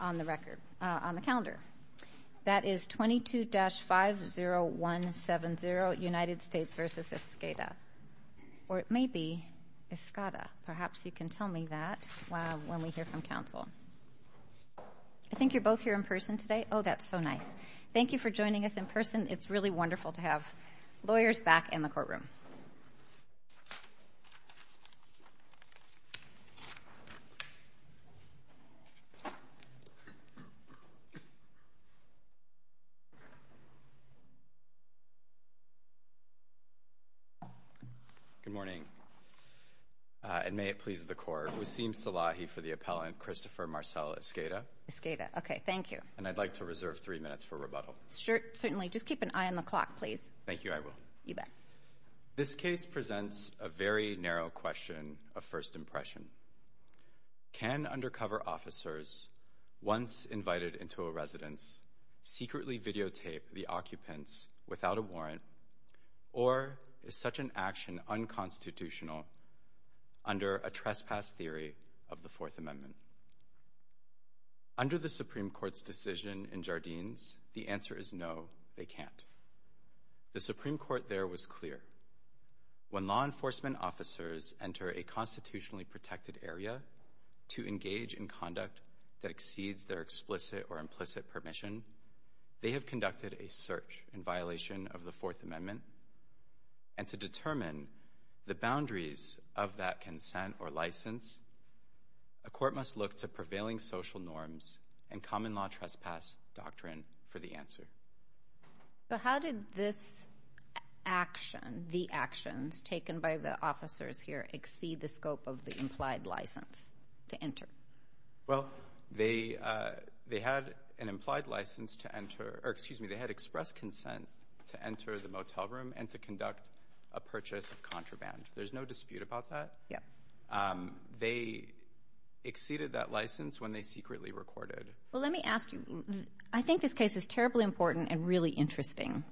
on the record, on the calendar. That is 22-50170, United States v. Esqueda. Or it may be Esqueda. Perhaps you can tell me that when we hear from counsel. I think you're both here in person today. Oh, that's so nice. Thank you for joining us in person. It's really wonderful to have lawyers back in the courtroom. Good morning. And may it please the court, Waseem Salahi for the appellant, Christopher Marcel Esqueda. Esqueda. Okay, thank you. And I'd like to reserve three minutes for rebuttal. Sure, certainly. Just keep an eye on the clock, please. Thank you, I will. You bet. This case presents a very narrow question of first impression. Can undercover officers, once invited into a residence, secretly videotape the occupants without a warrant, or is such an action unconstitutional under a trespass theory of the Fourth Amendment? Under the Supreme Court's decision in Jardines, the answer is no, they can't. The Supreme Court there was clear. When law enforcement officers enter a constitutionally protected area to engage in conduct that exceeds their explicit or implicit permission, they have conducted a search in violation of the Fourth Amendment. And to determine the boundaries of that consent or license, a court must look to prevailing social norms and common law trespass doctrine for the answer. So how did this action, the actions taken by the officers here, exceed the scope of the implied license to enter? Well, they had an implied license to enter, or excuse me, they had express consent to enter the motel room and to conduct a purchase of contraband. There's no dispute about that. Yeah. They exceeded that license when they secretly recorded. Well, let me ask you, I think this case is terribly important and really interesting.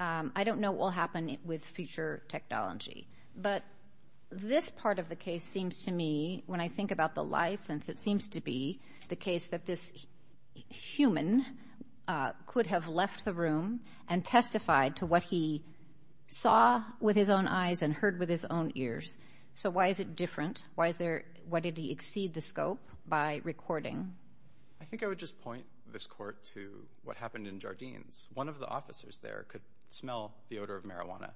I don't know what will happen with future technology, but this part of the case seems to me, when I think about the license, it seems to be the case that this human could have left the room and testified to what he saw with his own eyes and heard with his own ears. So why is it different? Why did he exceed the scope by recording? I think I would just point this court to what happened in Jardines. One of the officers there could smell the odor of marijuana,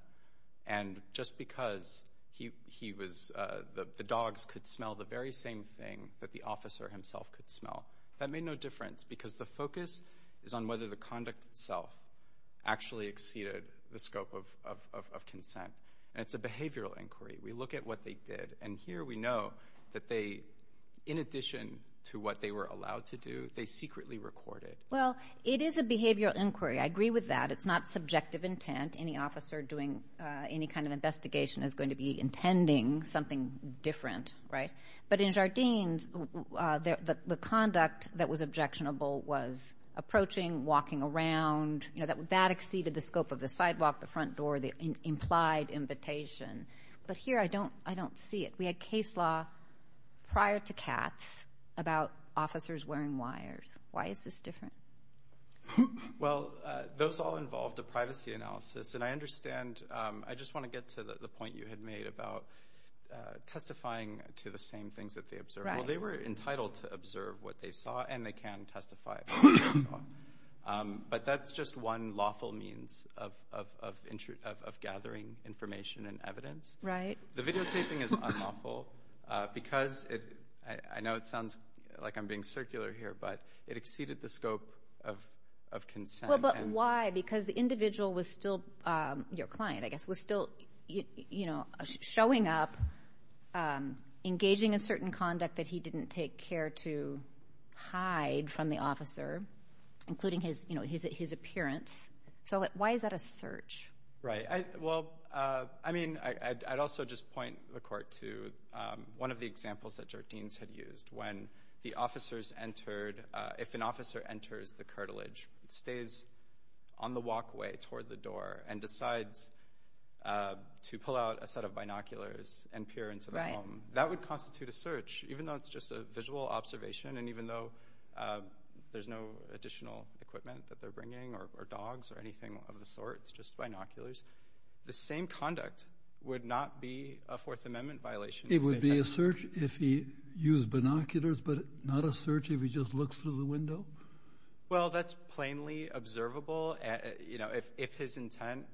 and just because the dogs could smell the very same thing that the officer himself could smell, that made no difference because the focus is on whether the conduct itself actually exceeded the scope of consent. It's a behavioral inquiry. We look at what they did, and here we know that they, in addition to what they were allowed to do, they secretly recorded. Well, it is a behavioral inquiry. I agree with that. It's not subjective intent. Any officer doing any kind of investigation is going to be intending something different, right? But in Jardines, the conduct that was the front door, the implied invitation, but here I don't see it. We had case law prior to Katz about officers wearing wires. Why is this different? Well, those all involved a privacy analysis, and I understand. I just want to get to the point you had made about testifying to the same things that they observed. Well, they were entitled to observe what they saw, and they can testify. But that's just one lawful means of gathering information and evidence. The videotaping is unlawful because it, I know it sounds like I'm being circular here, but it exceeded the scope of consent. Well, but why? Because the individual was still, your client, I guess, was still you know, showing up, engaging in certain conduct that he didn't take care to hide from the officer, including his, you know, his appearance. So why is that a search? Right. Well, I mean, I'd also just point the court to one of the examples that Jardines had used when the officers entered, if an officer enters the cartilage, it stays on the walkway toward the door and decides to pull out a set of binoculars and peer into the home. That would constitute a search, even though it's just a visual observation, and even though there's no additional equipment that they're bringing or dogs or anything of the sort, it's just binoculars. The same conduct would not be a Fourth Amendment violation. It would be a search if he used binoculars, but not a search if he just looks through the window? Well, that's plainly observable. You know, if his intent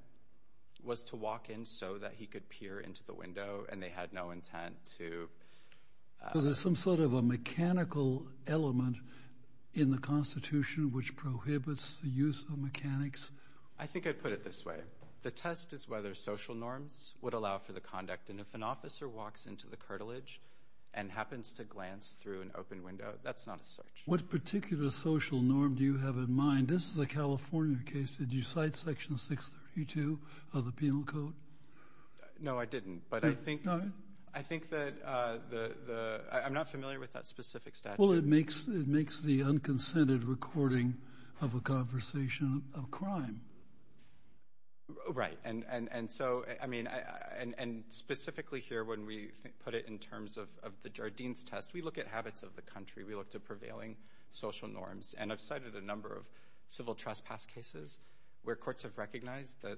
was to walk in so that he could peer into the window and they had no intent to... So there's some sort of a mechanical element in the Constitution which prohibits the use of mechanics? I think I'd put it this way. The test is whether social norms would allow for the conduct, and if an officer walks into the cartilage and happens to glance through an open window, that's not a search. What particular social norm do you have in mind? This is a California case. Did you cite Section 632 of the Penal Code? No, I didn't, but I think that the... I'm not familiar with that specific statute. Well, it makes the unconsented recording of a conversation of crime. Right. And so, I mean, and specifically here when we put it in terms of the Jardines test, we look at habits of the country. We look to prevailing social norms, and I've cited a number of civil trespass cases where courts have recognized that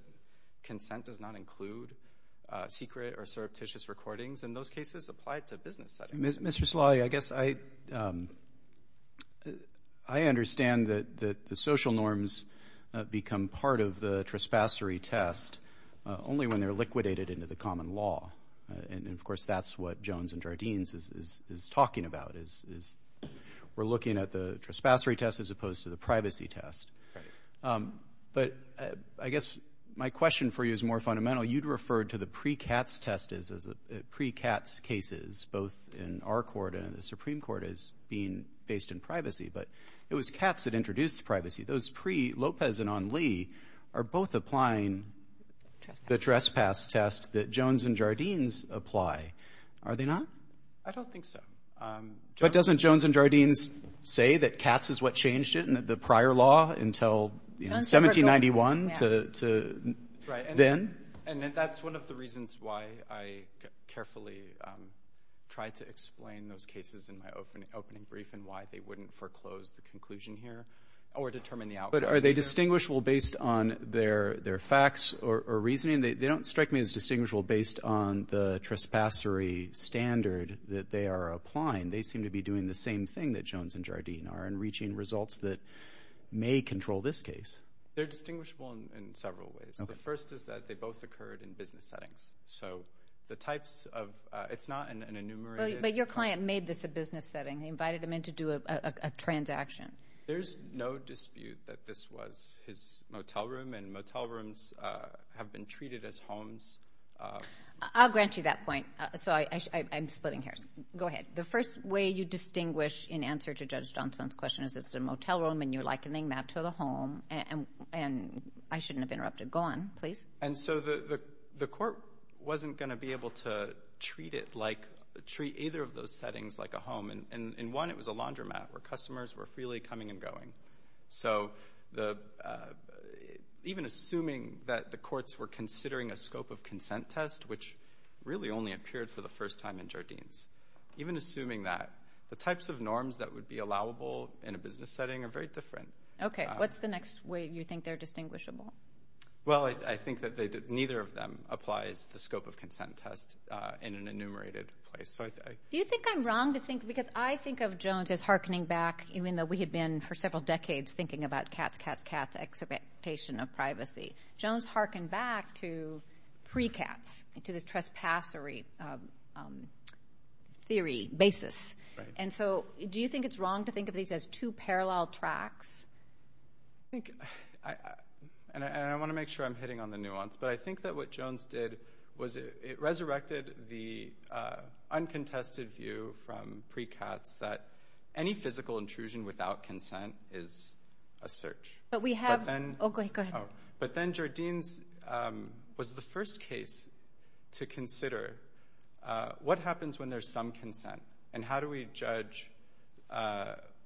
consent does not include secret or surreptitious recordings, and those cases apply to a business setting. Mr. Salali, I guess I understand that the social norms become part of the trespassory test only when they're liquidated into the common law, and of course that's what Jones and Jardines is talking about, is we're looking at the trespassory test as opposed to the privacy test. But I guess my question for you is more fundamental. You'd refer to the pre-CATS test as pre-CATS cases, both in our court and the Supreme Court as being based in privacy, but it was CATS that introduced privacy. Those pre-Lopez and on Lee are both applying the trespass test that Jones and Jardines apply. Are they not? I don't think so. But doesn't Jones and Jardines say that CATS is what changed it in the prior law until 1791 to then? And that's one of the reasons why I carefully tried to explain those cases in my opening brief and why they wouldn't foreclose the conclusion here or determine the outcome. But are they distinguishable based on their facts or reasoning? They don't strike me as trespassory standard that they are applying. They seem to be doing the same thing that Jones and Jardines are and reaching results that may control this case. They're distinguishable in several ways. The first is that they both occurred in business settings. So the types of... It's not an enumerated... But your client made this a business setting. He invited him in to do a transaction. There's no dispute that this was his motel room and motel rooms have been treated as homes. I'll grant you that point. So I'm splitting hairs. Go ahead. The first way you distinguish in answer to Judge Johnson's question is it's a motel room and you're likening that to the home. And I shouldn't have interrupted. Go on, please. And so the court wasn't going to be able to treat either of those settings like a home. And in one, it was a laundromat where customers were freely coming and going. So even assuming that the courts were considering a scope of consent test, which really only appeared for the first time in Jardines, even assuming that, the types of norms that would be allowable in a business setting are very different. Okay. What's the next way you think they're distinguishable? Well, I think that neither of them applies the scope of consent test in an enumerated place. Do you think I'm wrong to think... Because I think of Jones as hearkening back, even though we had been for several decades thinking about cats, cats, cats, expectation of privacy. Jones hearkened back to pre-cats, to this trespass theory basis. And so do you think it's wrong to think of these as two parallel tracks? I think, and I want to make sure I'm hitting on the nuance, but I think that what Jones did was it resurrected the uncontested view from pre-cats that any physical intrusion without consent is a search. But we have... Oh, go ahead. But then Jardines was the first case to consider what happens when there's some consent, and how do we judge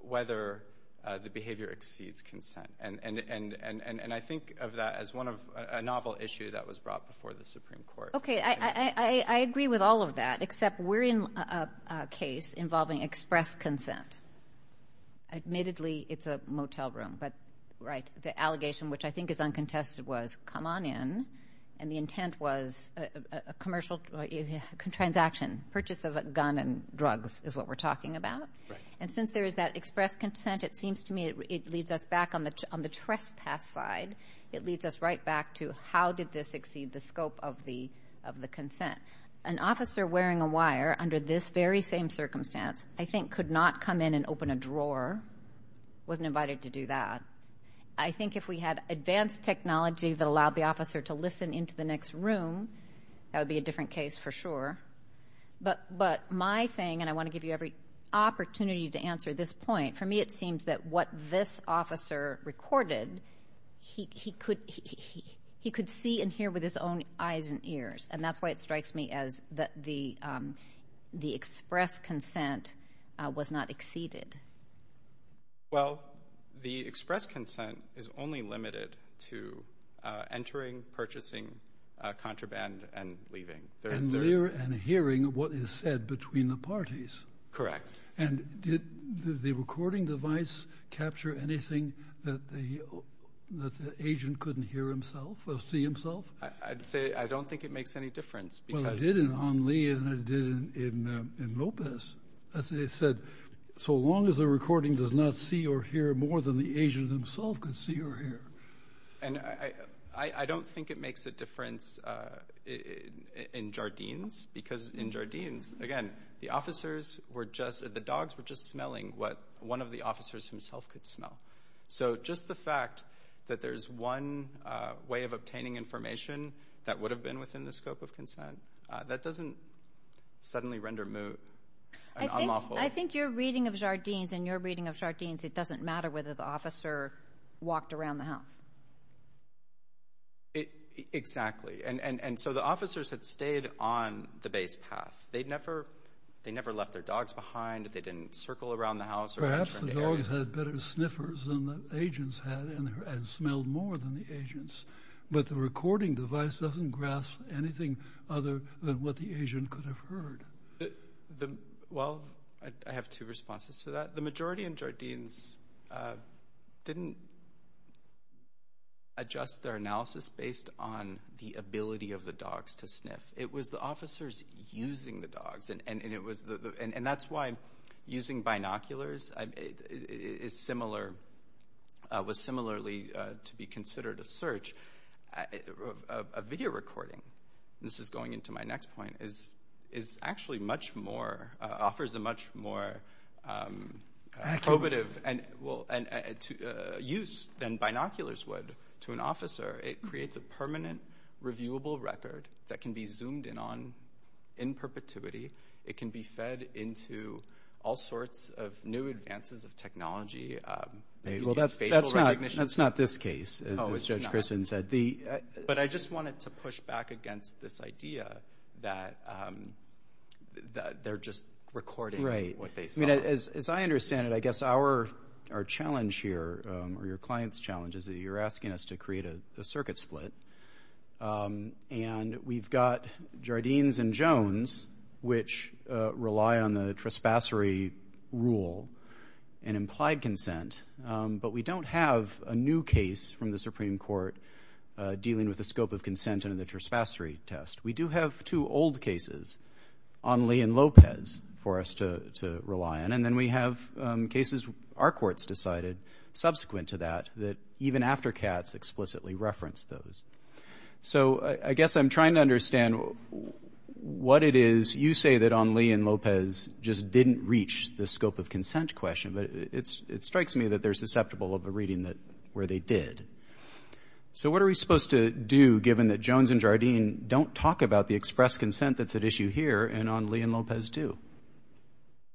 whether the behavior exceeds consent? And I think of that as a novel issue that was brought before the Supreme Court. Okay. I agree with all of that, except we're in a case involving express consent. Admittedly, it's a motel room, but the allegation, which I think is uncontested, was come on in. And the intent was a commercial transaction. Purchase of a gun and drugs is what we're talking about. And since there is that express consent, it seems to me it leads us back on the trespass side. It leads us right back to how did this exceed the scope of the consent? An officer wearing a wire under this very same circumstance, I think, could not come in and open a drawer, wasn't invited to do that. I think if we had advanced technology that allowed the officer to listen into the next room, that would be a different case for sure. But my thing, and I want to give you every hint, he could see and hear with his own eyes and ears. And that's why it strikes me as that the express consent was not exceeded. Well, the express consent is only limited to entering, purchasing, contraband, and leaving. And hearing what is said between the parties. Correct. And did the recording device capture anything that the agent couldn't hear himself or see himself? I'd say I don't think it makes any difference. Well, it did in Omni and it did in Lopez. As they said, so long as the recording does not see or hear more than the agent himself could see or hear. And I don't think it makes a difference in Jardines. Because in Jardines, again, the officers were just, the dogs were just smelling what one of the officers himself could smell. So just the fact that there's one way of obtaining information that would have been within the scope of consent, that doesn't suddenly render Moo an unlawful. I think your reading of Jardines and your reading of Jardines, it doesn't matter whether the officer walked around the house. They never left their dogs behind. They didn't circle around the house. Perhaps the dogs had better sniffers than the agents had and smelled more than the agents. But the recording device doesn't grasp anything other than what the agent could have heard. Well, I have two responses to that. The majority in Jardines didn't adjust their analysis based on the ability of the dogs to sniff. It was the officers using the dogs. And that's why using binoculars was similarly to be considered a search. A video recording, this is going into my next point, is actually much more, offers a much more probative use than binoculars would to an officer. It creates a permanent, reviewable record that can be zoomed in on in perpetuity. It can be fed into all sorts of new advances of technology. Well, that's not this case, as Judge Christian said. But I just wanted to push back against this idea that they're just recording what they saw. As I understand it, I guess our challenge here, or your client's challenge, is that you're asking us to create a circuit split. And we've got Jardines and Jones, which rely on the trespassory rule and implied consent. But we don't have a new case from the Supreme Court dealing with the scope of consent under the trespassory test. We do have two old cases, Onley and Lopez, for us to rely on. And then we have cases our courts decided, subsequent to that, that even after CATS explicitly referenced those. So, I guess I'm trying to understand what it is, you say that Onley and Lopez just didn't reach the scope of consent question. But it strikes me that they're susceptible of a reading where they did. So, what are we supposed to do, given that Jones and Jardine don't talk about the express consent that's at issue here, and Onley and Lopez do?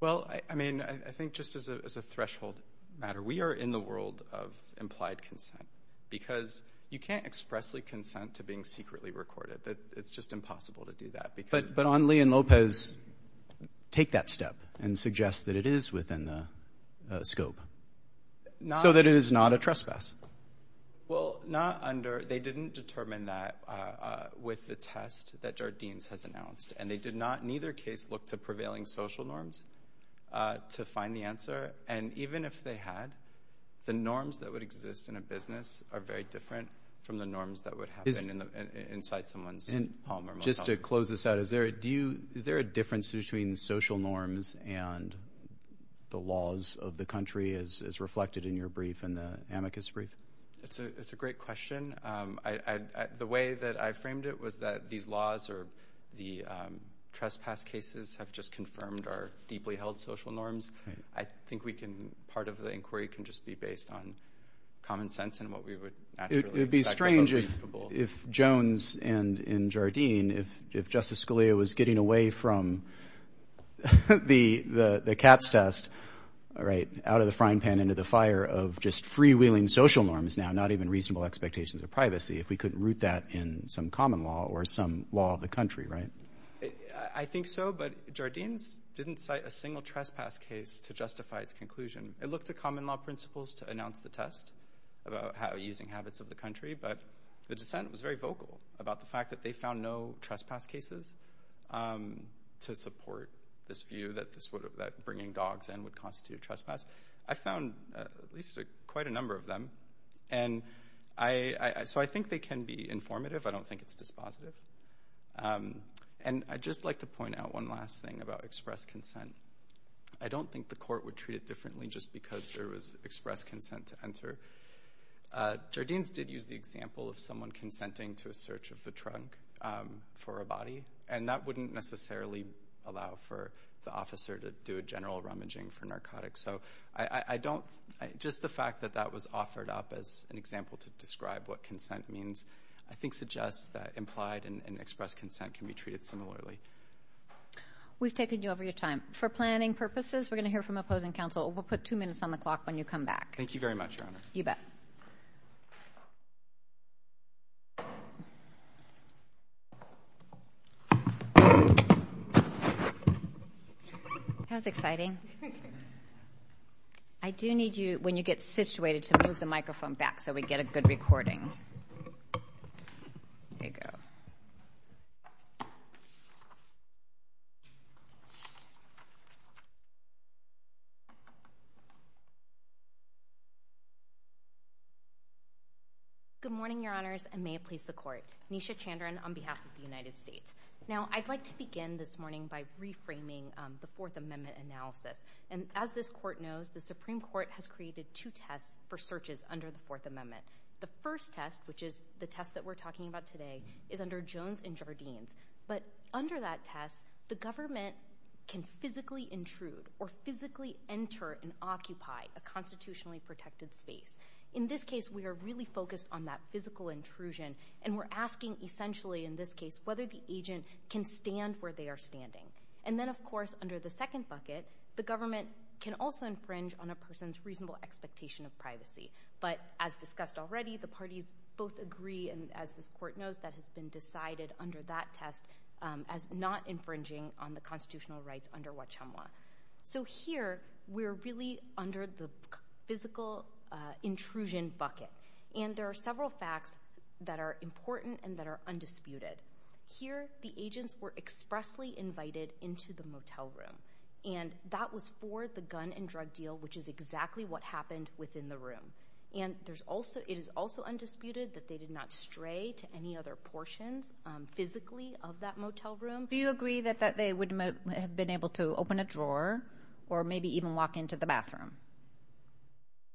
Well, I mean, I think just as a threshold matter, we are in the world of implied consent. Because you can't expressly consent to being secretly recorded. It's just impossible to do that. But Onley and Lopez take that step and suggest that it is within the scope. So that it is not a trespass. Well, not under, they didn't determine that with the test that Jardines has announced. And they did neither case look to prevailing social norms to find the answer. And even if they had, the norms that would exist in a business are very different from the norms that would happen inside someone's home or motel. Just to close this out, is there a difference between social norms and the laws of the country as reflected in your brief and the amicus brief? It's a great question. The way that I framed it was that these laws or the trespass cases have just confirmed our deeply held social norms. I think we can, part of the inquiry can just be based on common sense and what we would naturally expect. It would be strange if Jones and Jardine, if Justice Scalia was getting away from the cat's test, right, out of the frying pan into the fire of just freewheeling social norms now, not even reasonable expectations of privacy, if we couldn't root that in some common law or some law of the country, right? I think so. But Jardines didn't cite a single trespass case to justify its conclusion. It looked at common law principles to announce the test about how using habits of the country, but the dissent was very vocal about the fact that they found no trespass cases to support this view that bringing dogs in would constitute trespass. I found at least quite a number of them. So I think they can be informative. I don't think it's dispositive. And I'd just like to point out one last thing about express consent. I don't think the court would treat it differently just because there was express consent to enter. Jardines did use the example of someone consenting to a search of the trunk for a body. That wouldn't necessarily allow for the officer to do a general rummaging for narcotics. Just the fact that that was offered up as an example to describe what consent means, I think, suggests that implied and express consent can be treated similarly. We've taken you over your time. For planning purposes, we're going to hear from opposing counsel. We'll put two minutes on the clock when you come back. Thank you very much, Your Honor. You bet. That was exciting. I do need you, when you get situated, to move the microphone back so we get a good recording. There you go. Good morning, Your Honors, and may it please the Court. Nisha Chandran on behalf of the United States. Now, I'd like to begin this morning by reframing the Fourth Amendment analysis. And as this Court knows, the Supreme Court has created two tests for searches under the Fourth Amendment. The first test, which is the test that we're talking about today, is under Jones and Jardines. But under that test, the government can physically intrude or physically enter and occupy a In this case, we are really focused on that physical intrusion. And we're asking, essentially, in this case, whether the agent can stand where they are standing. And then, of course, under the second bucket, the government can also infringe on a person's reasonable expectation of privacy. But as discussed already, the parties both agree, and as this Court knows, that has been decided under that test as not infringing on the constitutional rights under Wachamwa. So here, we're really under the physical intrusion bucket. And there are several facts that are important and that are undisputed. Here, the agents were expressly invited into the motel room. And that was for the gun and drug deal, which is exactly what happened within the room. And it is also undisputed that they did not stray to any other portions physically of that motel room. Do you agree that they would have been able to open a drawer or maybe even walk into the bathroom?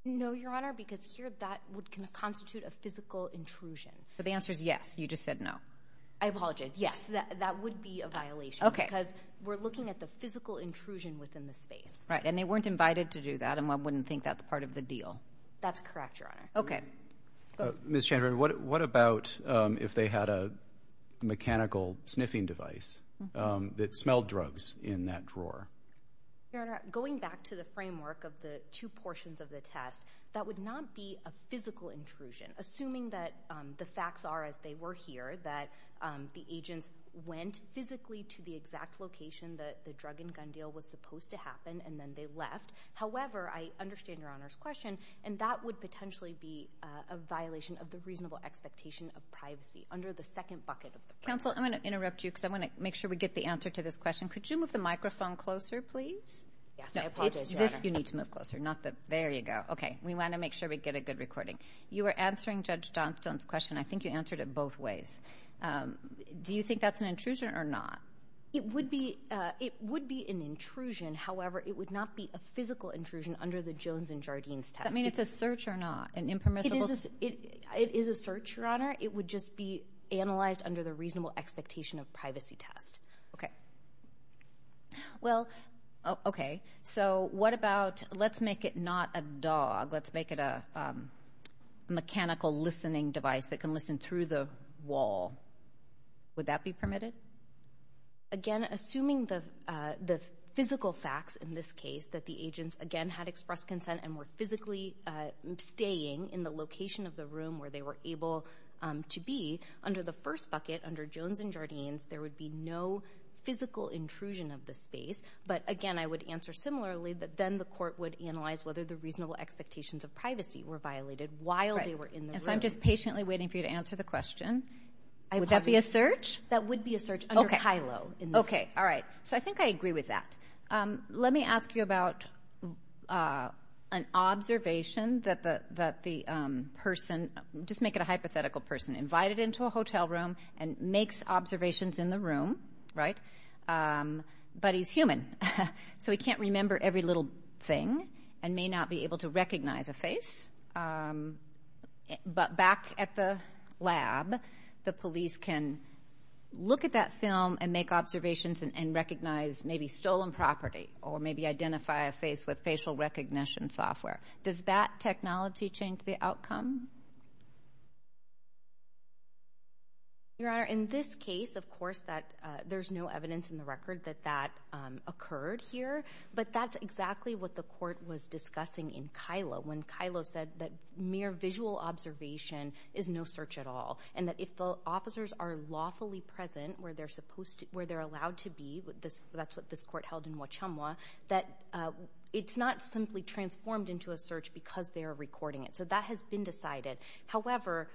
No, Your Honor, because here, that would constitute a physical intrusion. But the answer is yes. You just said no. I apologize. Yes, that would be a violation because we're looking at the physical intrusion within the space. Right. And they weren't invited to do that. And I wouldn't think that's part of the deal. That's correct, Your Honor. Okay. Ms. Chandler, what about if they had a mechanical sniffing device that smelled drugs in that drawer? Your Honor, going back to the framework of the two portions of the test, that would not be a physical intrusion, assuming that the facts are as they were here, that the agents went physically to the exact location that the drug and gun deal was supposed to happen, and then they left. However, I understand Your Honor's question, and that would potentially be a violation of the reasonable expectation of privacy under the second bucket of the question. Counsel, I'm going to interrupt you because I want to make sure we get the answer to this question. Could you move the microphone closer, please? Yes, I apologize, Your Honor. This you need to move closer, not the... there you go. Okay. We want to make sure we get a good recording. You were answering Judge Johnstone's question. I think you answered it both ways. Do you think that's an intrusion or not? It would be an intrusion. However, it would not be a physical intrusion under the Jones and Jardines test. That means it's a search or not, an impermissible... It is a search, Your Honor. It would just be analyzed under the reasonable expectation of privacy test. Okay. Well, okay. So what about, let's make it not a dog. Let's make it a mechanical listening device that can listen through the wall. Would that be permitted? Again, assuming the physical facts in this case, that the agents, again, had expressed consent and were physically staying in the location of the room where they were able to be, under the first bucket, under Jones and Jardines, there would be no physical intrusion of the space. But again, I would answer similarly that then the court would analyze whether the reasonable expectations of privacy were violated while they were in the room. And so I'm just patiently waiting for you to answer the question. Would that be a search? That would be a search under Kylo in this case. Okay. All right. So I think I agree with that. Let me ask you about an observation that the person, just make it a hypothetical person, invited into a hotel room and makes observations in the room, right, but he's human. So he can't remember every little thing and may not be able to recognize a face. But back at the lab, the police can look at that film and make observations and recognize maybe stolen property or maybe identify a face with facial recognition software. Does that technology change the outcome? Your Honor, in this case, of course, there's no evidence in the record that that occurred here. But that's exactly what the court was discussing in Kylo when Kylo said that mere visual observation is no search at all and that if the officers are lawfully present where they're supposed to, where they're allowed to be, that's what this court held in Wachamwa, that it's not simply transformed into a search because they are recording it. So that has been decided. However,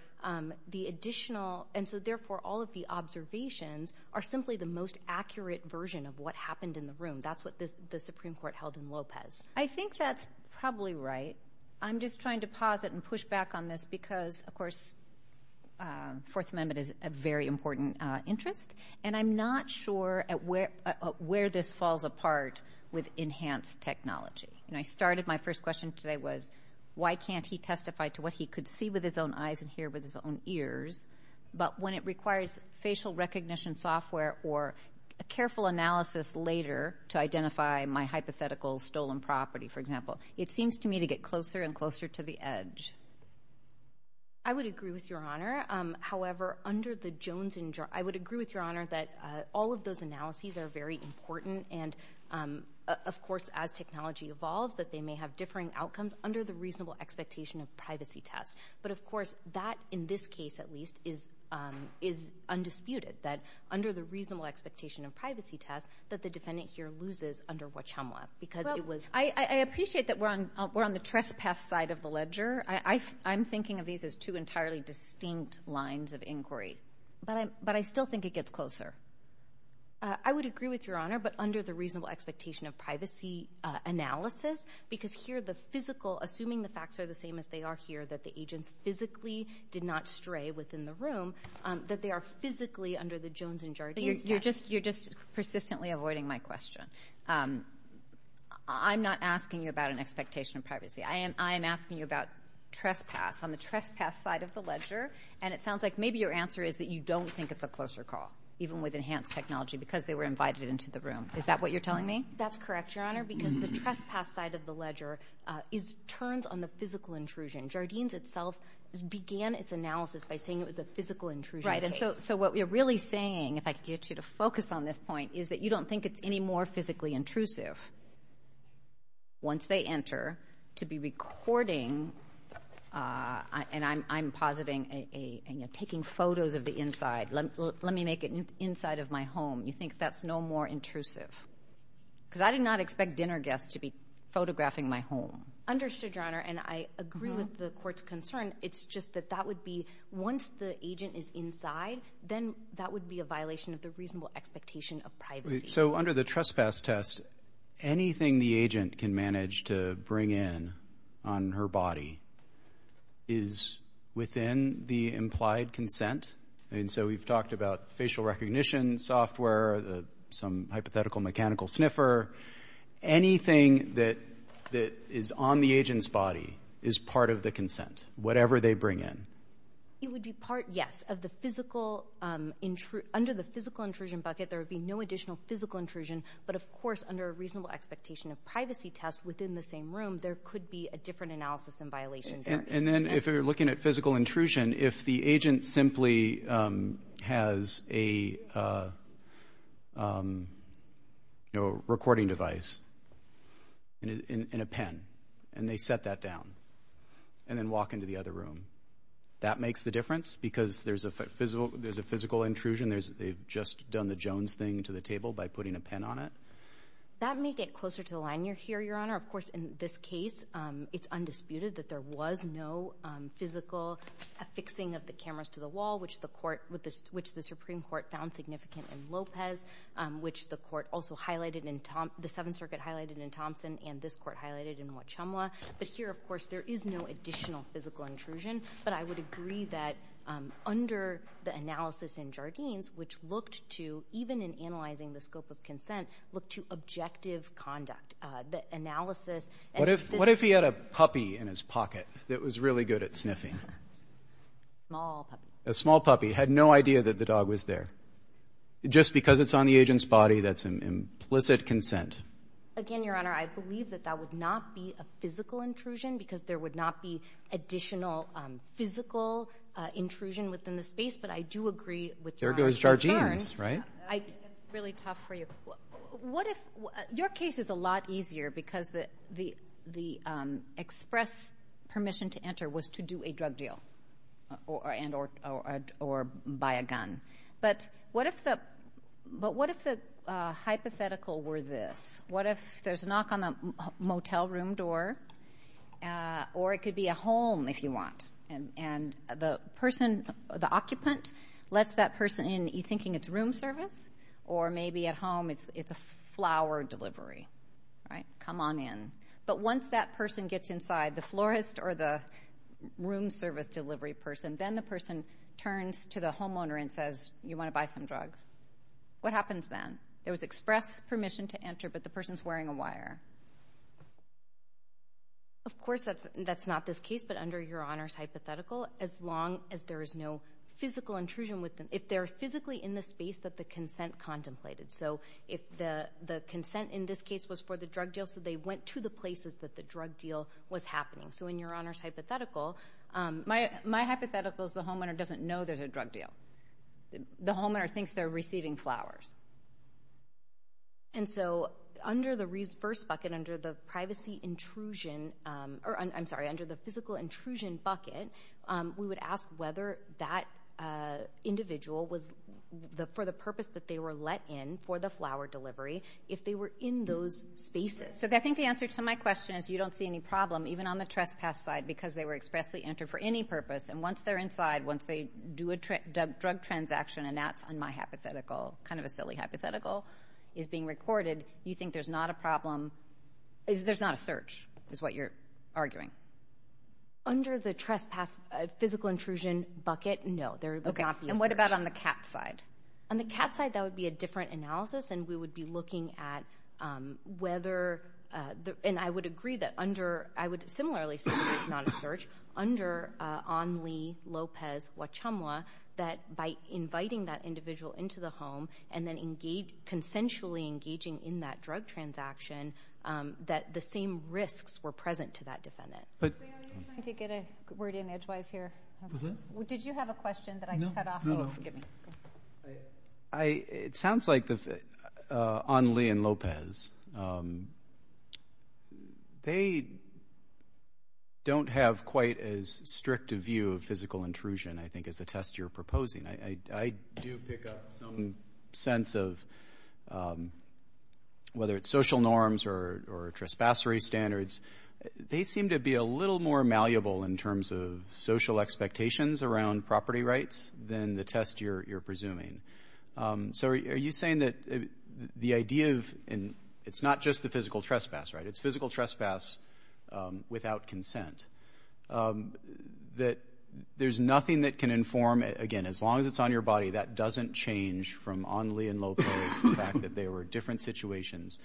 the additional, and so therefore all of the observations are simply the most accurate version of what happened in the room. That's what the Supreme Court held in Lopez. I think that's probably right. I'm just trying to pause it and push back on this because, of course, Fourth Amendment is a very important interest. And I'm not sure where this falls apart with enhanced technology. And I started, my first question today was, why can't he testify to what he could see with his own eyes and hear with his own ears? But when it requires facial recognition software or a careful analysis later to identify my hypothetical stolen property, for example, it seems to me to get closer and closer to the edge. I would agree with Your Honor. However, under the Jones injury, I would agree with Your Honor that all of those analyses are very important. And of course, as technology evolves, that they may have differing outcomes under the reasonable expectation of privacy test. But of course, that, in this case at least, is undisputed, that under the reasonable expectation of privacy test, that the defendant here loses under Wachama because it was— Well, I appreciate that we're on the trespass side of the ledger. I'm thinking of these as two entirely distinct lines of inquiry. But I still think it gets closer. I would agree with Your Honor, but under the reasonable expectation of privacy analysis, because here the physical—assuming the facts are the same as they are here, that the agents physically did not stray within the room, that they are physically under the Jones injury. But you're just persistently avoiding my question. I'm not asking you about an expectation of privacy. I am asking you about trespass, on the trespass side of the ledger, and it sounds like maybe your answer is that you don't think it's a closer call, even with enhanced technology, because they were invited into the room. Is that what you're telling me? That's correct, Your Honor, because the trespass side of the ledger turns on the physical intrusion. Jardines itself began its analysis by saying it was a physical intrusion case. So what we're really saying, if I could get you to focus on this point, is that you don't think it's any more physically intrusive, once they enter, to be recording—and I'm positing taking photos of the inside. Let me make it inside of my home. You think that's no more intrusive? Because I did not expect dinner guests to be photographing my home. Understood, Your Honor, and I agree with the court's concern. It's just that that would be—once the agent is inside, then that would be a violation of the reasonable expectation of privacy. So under the trespass test, anything the agent can manage to bring in on her body is within the implied consent? And so we've talked about facial recognition software, some hypothetical mechanical sniffer. Anything that is on the agent's body is part of the consent, whatever they bring in. It would be part, yes, of the physical—under the physical intrusion bucket, there would be no additional physical intrusion. But of course, under a reasonable expectation of privacy test within the same room, there could be a different analysis and violation there. And then if you're looking at physical intrusion, if the agent simply has a recording device in a pen and they set that down and then walk into the other room, that makes the difference? Because there's a physical intrusion, they've just done the Jones thing to the table by putting a pen on it? That may get closer to the line here, Your Honor. Of course, in this case, it's undisputed that there was no physical affixing of the cameras to the wall, which the Supreme Court found significant in Lopez, which the court also highlighted in—the Seventh Circuit highlighted in Thompson, and this court highlighted in Mwachamwa. But here, of course, there is no additional physical intrusion. But I would agree that under the analysis in Jardines, which looked to, even in analyzing the scope of consent, look to objective conduct. The analysis— What if he had a puppy in his pocket that was really good at sniffing? A small puppy. A small puppy, had no idea that the dog was there. Just because it's on the agent's body, that's an implicit consent. Again, Your Honor, I believe that that would not be a physical intrusion, because there would not be additional physical intrusion within the space. But I do agree with Your Honor's concerns. There goes Jardines, right? That's really tough for you. What if—your case is a lot easier, because the expressed permission to enter was to do a drug deal, or buy a gun. But what if the hypothetical were this? What if there's a knock on the motel room door? Or it could be a home, if you want. And the person, the occupant, lets that person in, it's a flower delivery, right? Come on in. But once that person gets inside, the florist or the room service delivery person, then the person turns to the homeowner and says, you want to buy some drugs? What happens then? There was express permission to enter, but the person's wearing a wire. Of course, that's not this case, but under Your Honor's hypothetical, as long as there is no physical intrusion with them, if they're physically in the space that the consent contemplated. So, if the consent in this case was for the drug deal, so they went to the places that the drug deal was happening. So, in Your Honor's hypothetical— My hypothetical is the homeowner doesn't know there's a drug deal. The homeowner thinks they're receiving flowers. And so, under the first bucket, under the privacy intrusion, or I'm sorry, under the physical intrusion bucket, we would ask whether that individual was, for the purpose that they were let in for the flower delivery, if they were in those spaces. So, I think the answer to my question is you don't see any problem, even on the trespass side, because they were expressly entered for any purpose. And once they're inside, once they do a drug transaction, and that's on my hypothetical, kind of a silly hypothetical, is being recorded, you think there's not a problem? There's not a search, is what you're arguing? There would not be a search. And what about on the cat side? On the cat side, that would be a different analysis, and we would be looking at whether— and I would agree that under— I would similarly say there's not a search. Under Onley, Lopez, Wachamwa, that by inviting that individual into the home and then consensually engaging in that drug transaction, that the same risks were present to that defendant. Are you trying to get a word in edgewise here? Did you have a question that I cut off? Forgive me. It sounds like Onley and Lopez, they don't have quite as strict a view of physical intrusion, I think, as the test you're proposing. I do pick up some sense of, whether it's social norms or trespassery standards, they seem to be a little more malleable in terms of social expectations around property rights than the test you're presuming. So are you saying that the idea of— and it's not just the physical trespass, right? It's physical trespass without consent. That there's nothing that can inform— again, as long as it's on your body, that doesn't change from Onley and Lopez, the fact that they were different situations.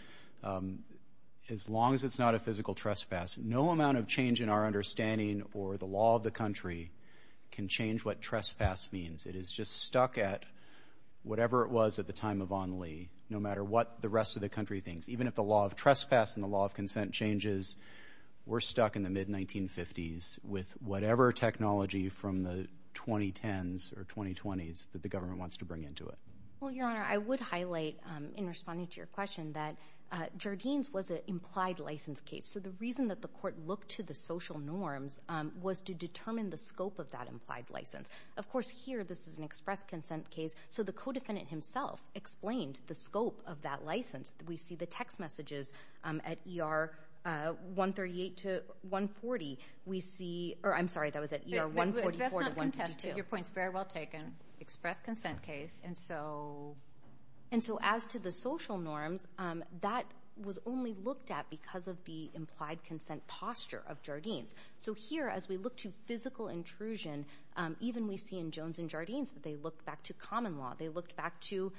As long as it's not a physical trespass, no amount of change in our understanding or the law of the country can change what trespass means. It is just stuck at whatever it was at the time of Onley, no matter what the rest of the country thinks. Even if the law of trespass and the law of consent changes, we're stuck in the mid-1950s with whatever technology from the 2010s or 2020s that the government wants to bring into it. Well, Your Honor, I would highlight, in responding to your question, that Jardines was an implied license case. So the reason that the court looked to the social norms was to determine the scope of that implied license. Of course, here, this is an express consent case, so the co-defendant himself explained the scope of that license. We see the text messages at ER 138 to 140. We see—or I'm sorry, that was at ER 144 to 152. That's not contested. Your point's very well taken. Express consent case. And so as to the social norms, that was only looked at because of the implied consent posture of Jardines. So here, as we look to physical intrusion, even we see in Jones and Jardines that they looked back to common law. They looked back to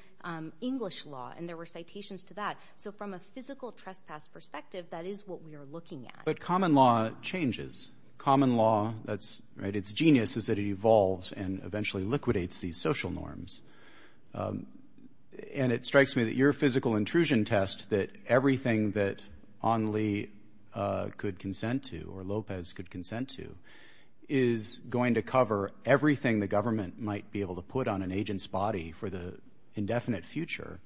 English law, and there were citations to that. So from a physical trespass perspective, that is what we are looking at. But common law changes. Common law, its genius is that it evolves and eventually liquidates these social norms. And it strikes me that your physical intrusion test, that everything that Onley could consent to or Lopez could consent to, is going to cover everything the government might be able to put on an agent's body for the indefinite future,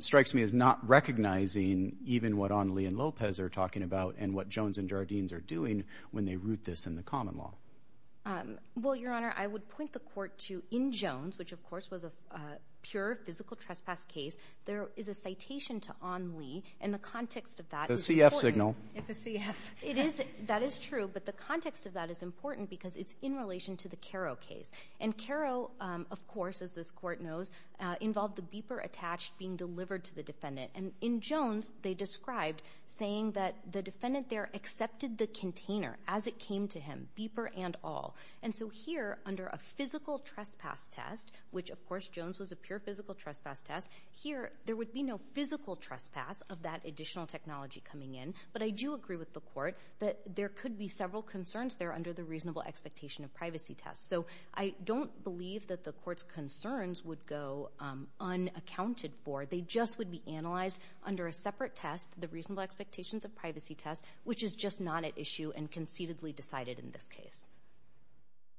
strikes me as not recognizing even what Onley and Lopez are talking about and what Jones and Jardines are doing when they root this in the common law. Well, Your Honor, I would point the court to in Jones, which of course was a pure physical trespass case, there is a citation to Onley, and the context of that is important. It's a CF signal. It's a CF. It is. That is true. But the context of that is important because it's in relation to the Caro case. And Caro, of course, as this court knows, involved the beeper attached being delivered to the defendant. And in Jones, they described saying that the defendant there accepted the container as it came to him, beeper and all. And so here under a physical trespass test, which of course Jones was a pure physical trespass test, here there would be no physical trespass of that additional technology coming in. But I do agree with the court that there could be several concerns there under the reasonable expectation of privacy test. So I don't believe that the court's concerns would go unaccounted for. They just would be analyzed under a separate test, the reasonable expectations of privacy test, which is just not at issue and concededly decided in this case.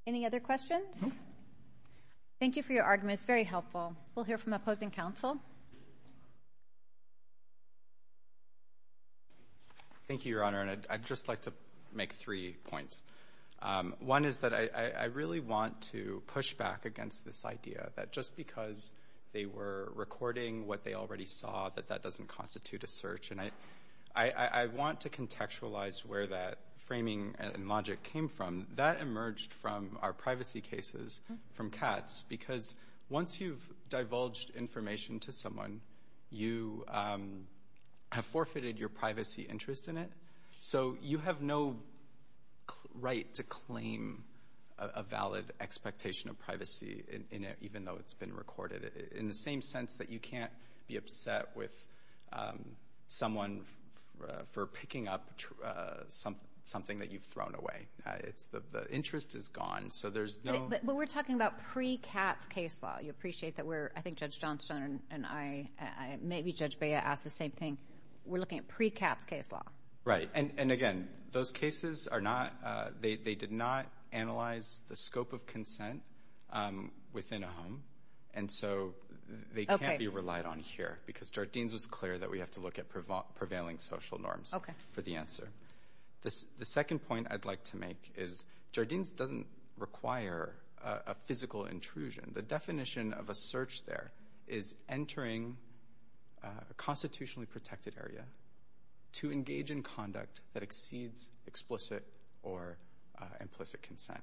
Any other questions? Thank you for your arguments. Very helpful. We'll hear from opposing counsel. Thank you, Your Honor. And I'd just like to make three points. One is that I really want to push back against this idea that just because they were recording what they already saw, that that doesn't constitute a search. And I want to contextualize where that framing and logic came from. That emerged from our privacy cases from Katz, because once you've divulged information to someone, you have forfeited your privacy interest in it. So you have no right to claim a valid expectation of privacy in it, even though it's been recorded. In the same sense that you can't be upset with someone for picking up something that you've thrown away. It's the interest is gone. So there's no... But we're talking about pre-Katz case law. You appreciate that we're, I think Judge Johnstone and I, maybe Judge Bea asked the same thing. We're looking at pre-Katz case law. Right. And again, those cases are not, they did not analyze the scope of consent within a home. And so they can't be relied on here because Jardines was clear that we have to look at prevailing social norms for the answer. The second point I'd like to make is Jardines doesn't require a physical intrusion. The definition of a search there is entering a constitutionally protected area to engage in conduct that exceeds explicit or implicit consent.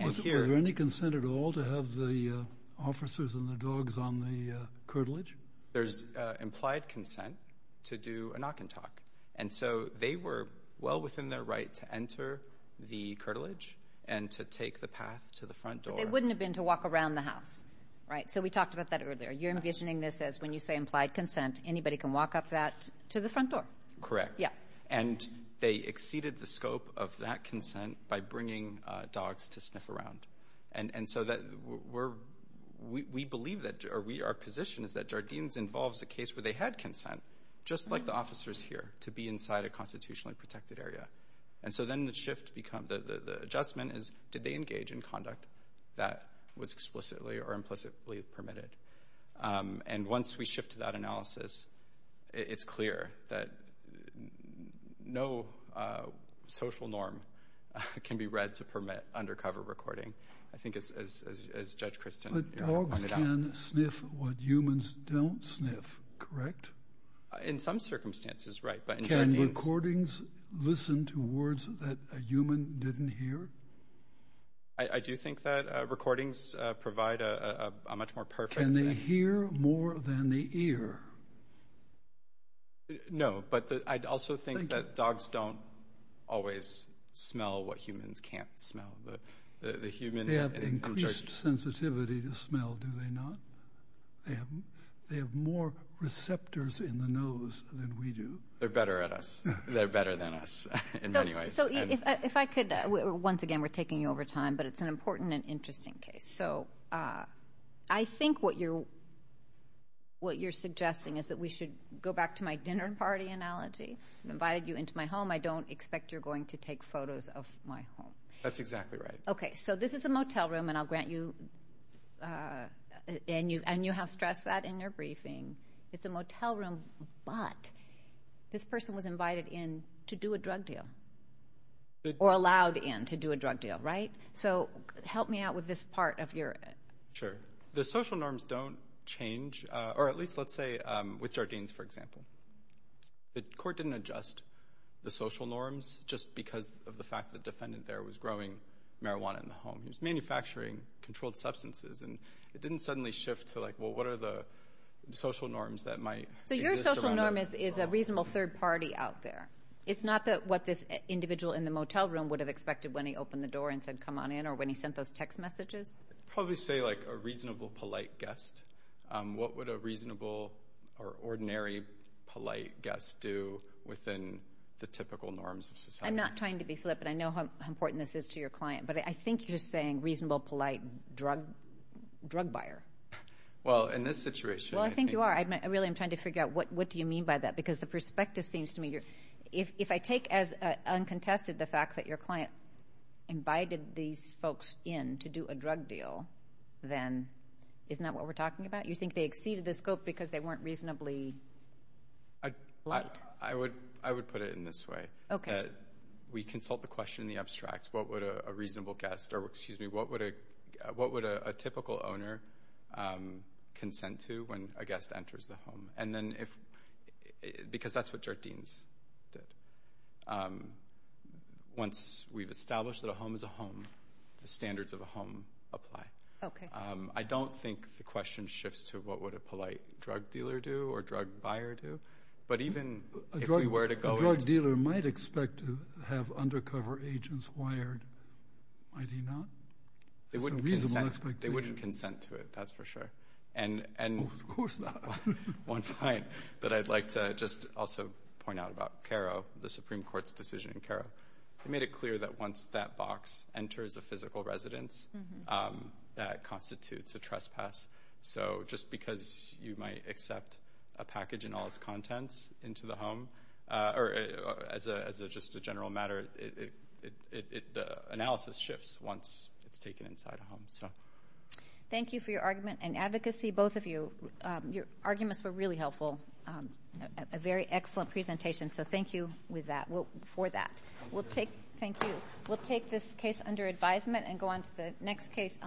Was there any consent at all to have the officers and the dogs on the curtilage? There's implied consent to do a knock and talk. And so they were well within their right to enter the curtilage and to take the path to the front door. They wouldn't have been to walk around the house, right? So we talked about that earlier. You're envisioning this as when you say implied consent, anybody can walk up that to the front door. Correct. Yeah. And they exceeded the scope of that consent by bringing dogs to sniff around. And so we believe that, or our position is that Jardines involves a case where they had consent, just like the officers here, to be inside a constitutionally protected area. And so then the adjustment is, did they engage in conduct that was explicitly or implicitly permitted? And once we shift to that analysis, it's clear that no social norm can be read to permit undercover recording. I think as Judge Kristin- But dogs can sniff what humans don't sniff, correct? In some circumstances, right. But in Jardines- Can recordings listen to words that a human didn't hear? I do think that recordings provide a much more perfect- Can they hear more than they hear? No, but I'd also think that dogs don't always smell what humans can't smell. The human- They have increased sensitivity to smell, do they not? They have more receptors in the nose than we do. They're better at us. They're better than us in many ways. So if I could, once again, we're taking you over time, but it's an important and interesting case. So I think what you're suggesting is that we should go back to my dinner party analogy. I've invited you into my home. I don't expect you're going to take photos of my home. That's exactly right. Okay, so this is a motel room, and you have stressed that in your briefing. It's a motel room, but this person was invited in to do a drug deal or allowed in to do a drug deal, right? So help me out with this part of your- Sure. The social norms don't change, or at least let's say with Jardines, for example. The court didn't adjust the social norms just because of the fact the defendant there was growing marijuana in the home. He was manufacturing controlled substances, and it didn't suddenly shift to like, well, what are the social norms that might- So your social norm is a reasonable third party out there. It's not what this individual in the motel room would have expected when he opened the door and said, come on in, or when he sent those text messages. Probably say like a reasonable, polite guest. What would a reasonable or ordinary, polite guest do within the typical norms of society? I'm not trying to be flippant. I know how important this is to your client, but I think you're just saying reasonable, polite drug buyer. Well, in this situation- Well, I think you are. Really, I'm trying to figure out what do you mean by that? Because the perspective seems to me you're- If I take as uncontested the fact that your client invited these folks in to do a drug deal, then isn't that what we're talking about? You think they exceeded the scope because they weren't reasonably polite? I would put it in this way. We consult the question in the abstract. What would a reasonable guest, or excuse me, what would a typical owner consent to when a guest enters the home? Because that's what your deans did. Once we've established that a home is a home, the standards of a home apply. Okay. I don't think the question shifts to what would a polite drug dealer do or drug buyer do, but even if we were to go- A drug dealer might expect to have undercover agents wired, might he not? It's a reasonable expectation. They wouldn't consent to it, that's for sure. Of course not. One point that I'd like to just also point out about CARO, the Supreme Court's decision in CARO, they made it clear that once that box enters a physical residence, that constitutes a trespass. Just because you might accept a package in all its contents into the home, or as just a general matter, the analysis shifts once it's taken inside a home. Thank you for your argument and advocacy, both of you. Your arguments were really helpful. A very excellent presentation, so thank you for that. Thank you. We'll take this case under advisement and go on to the next case on the right.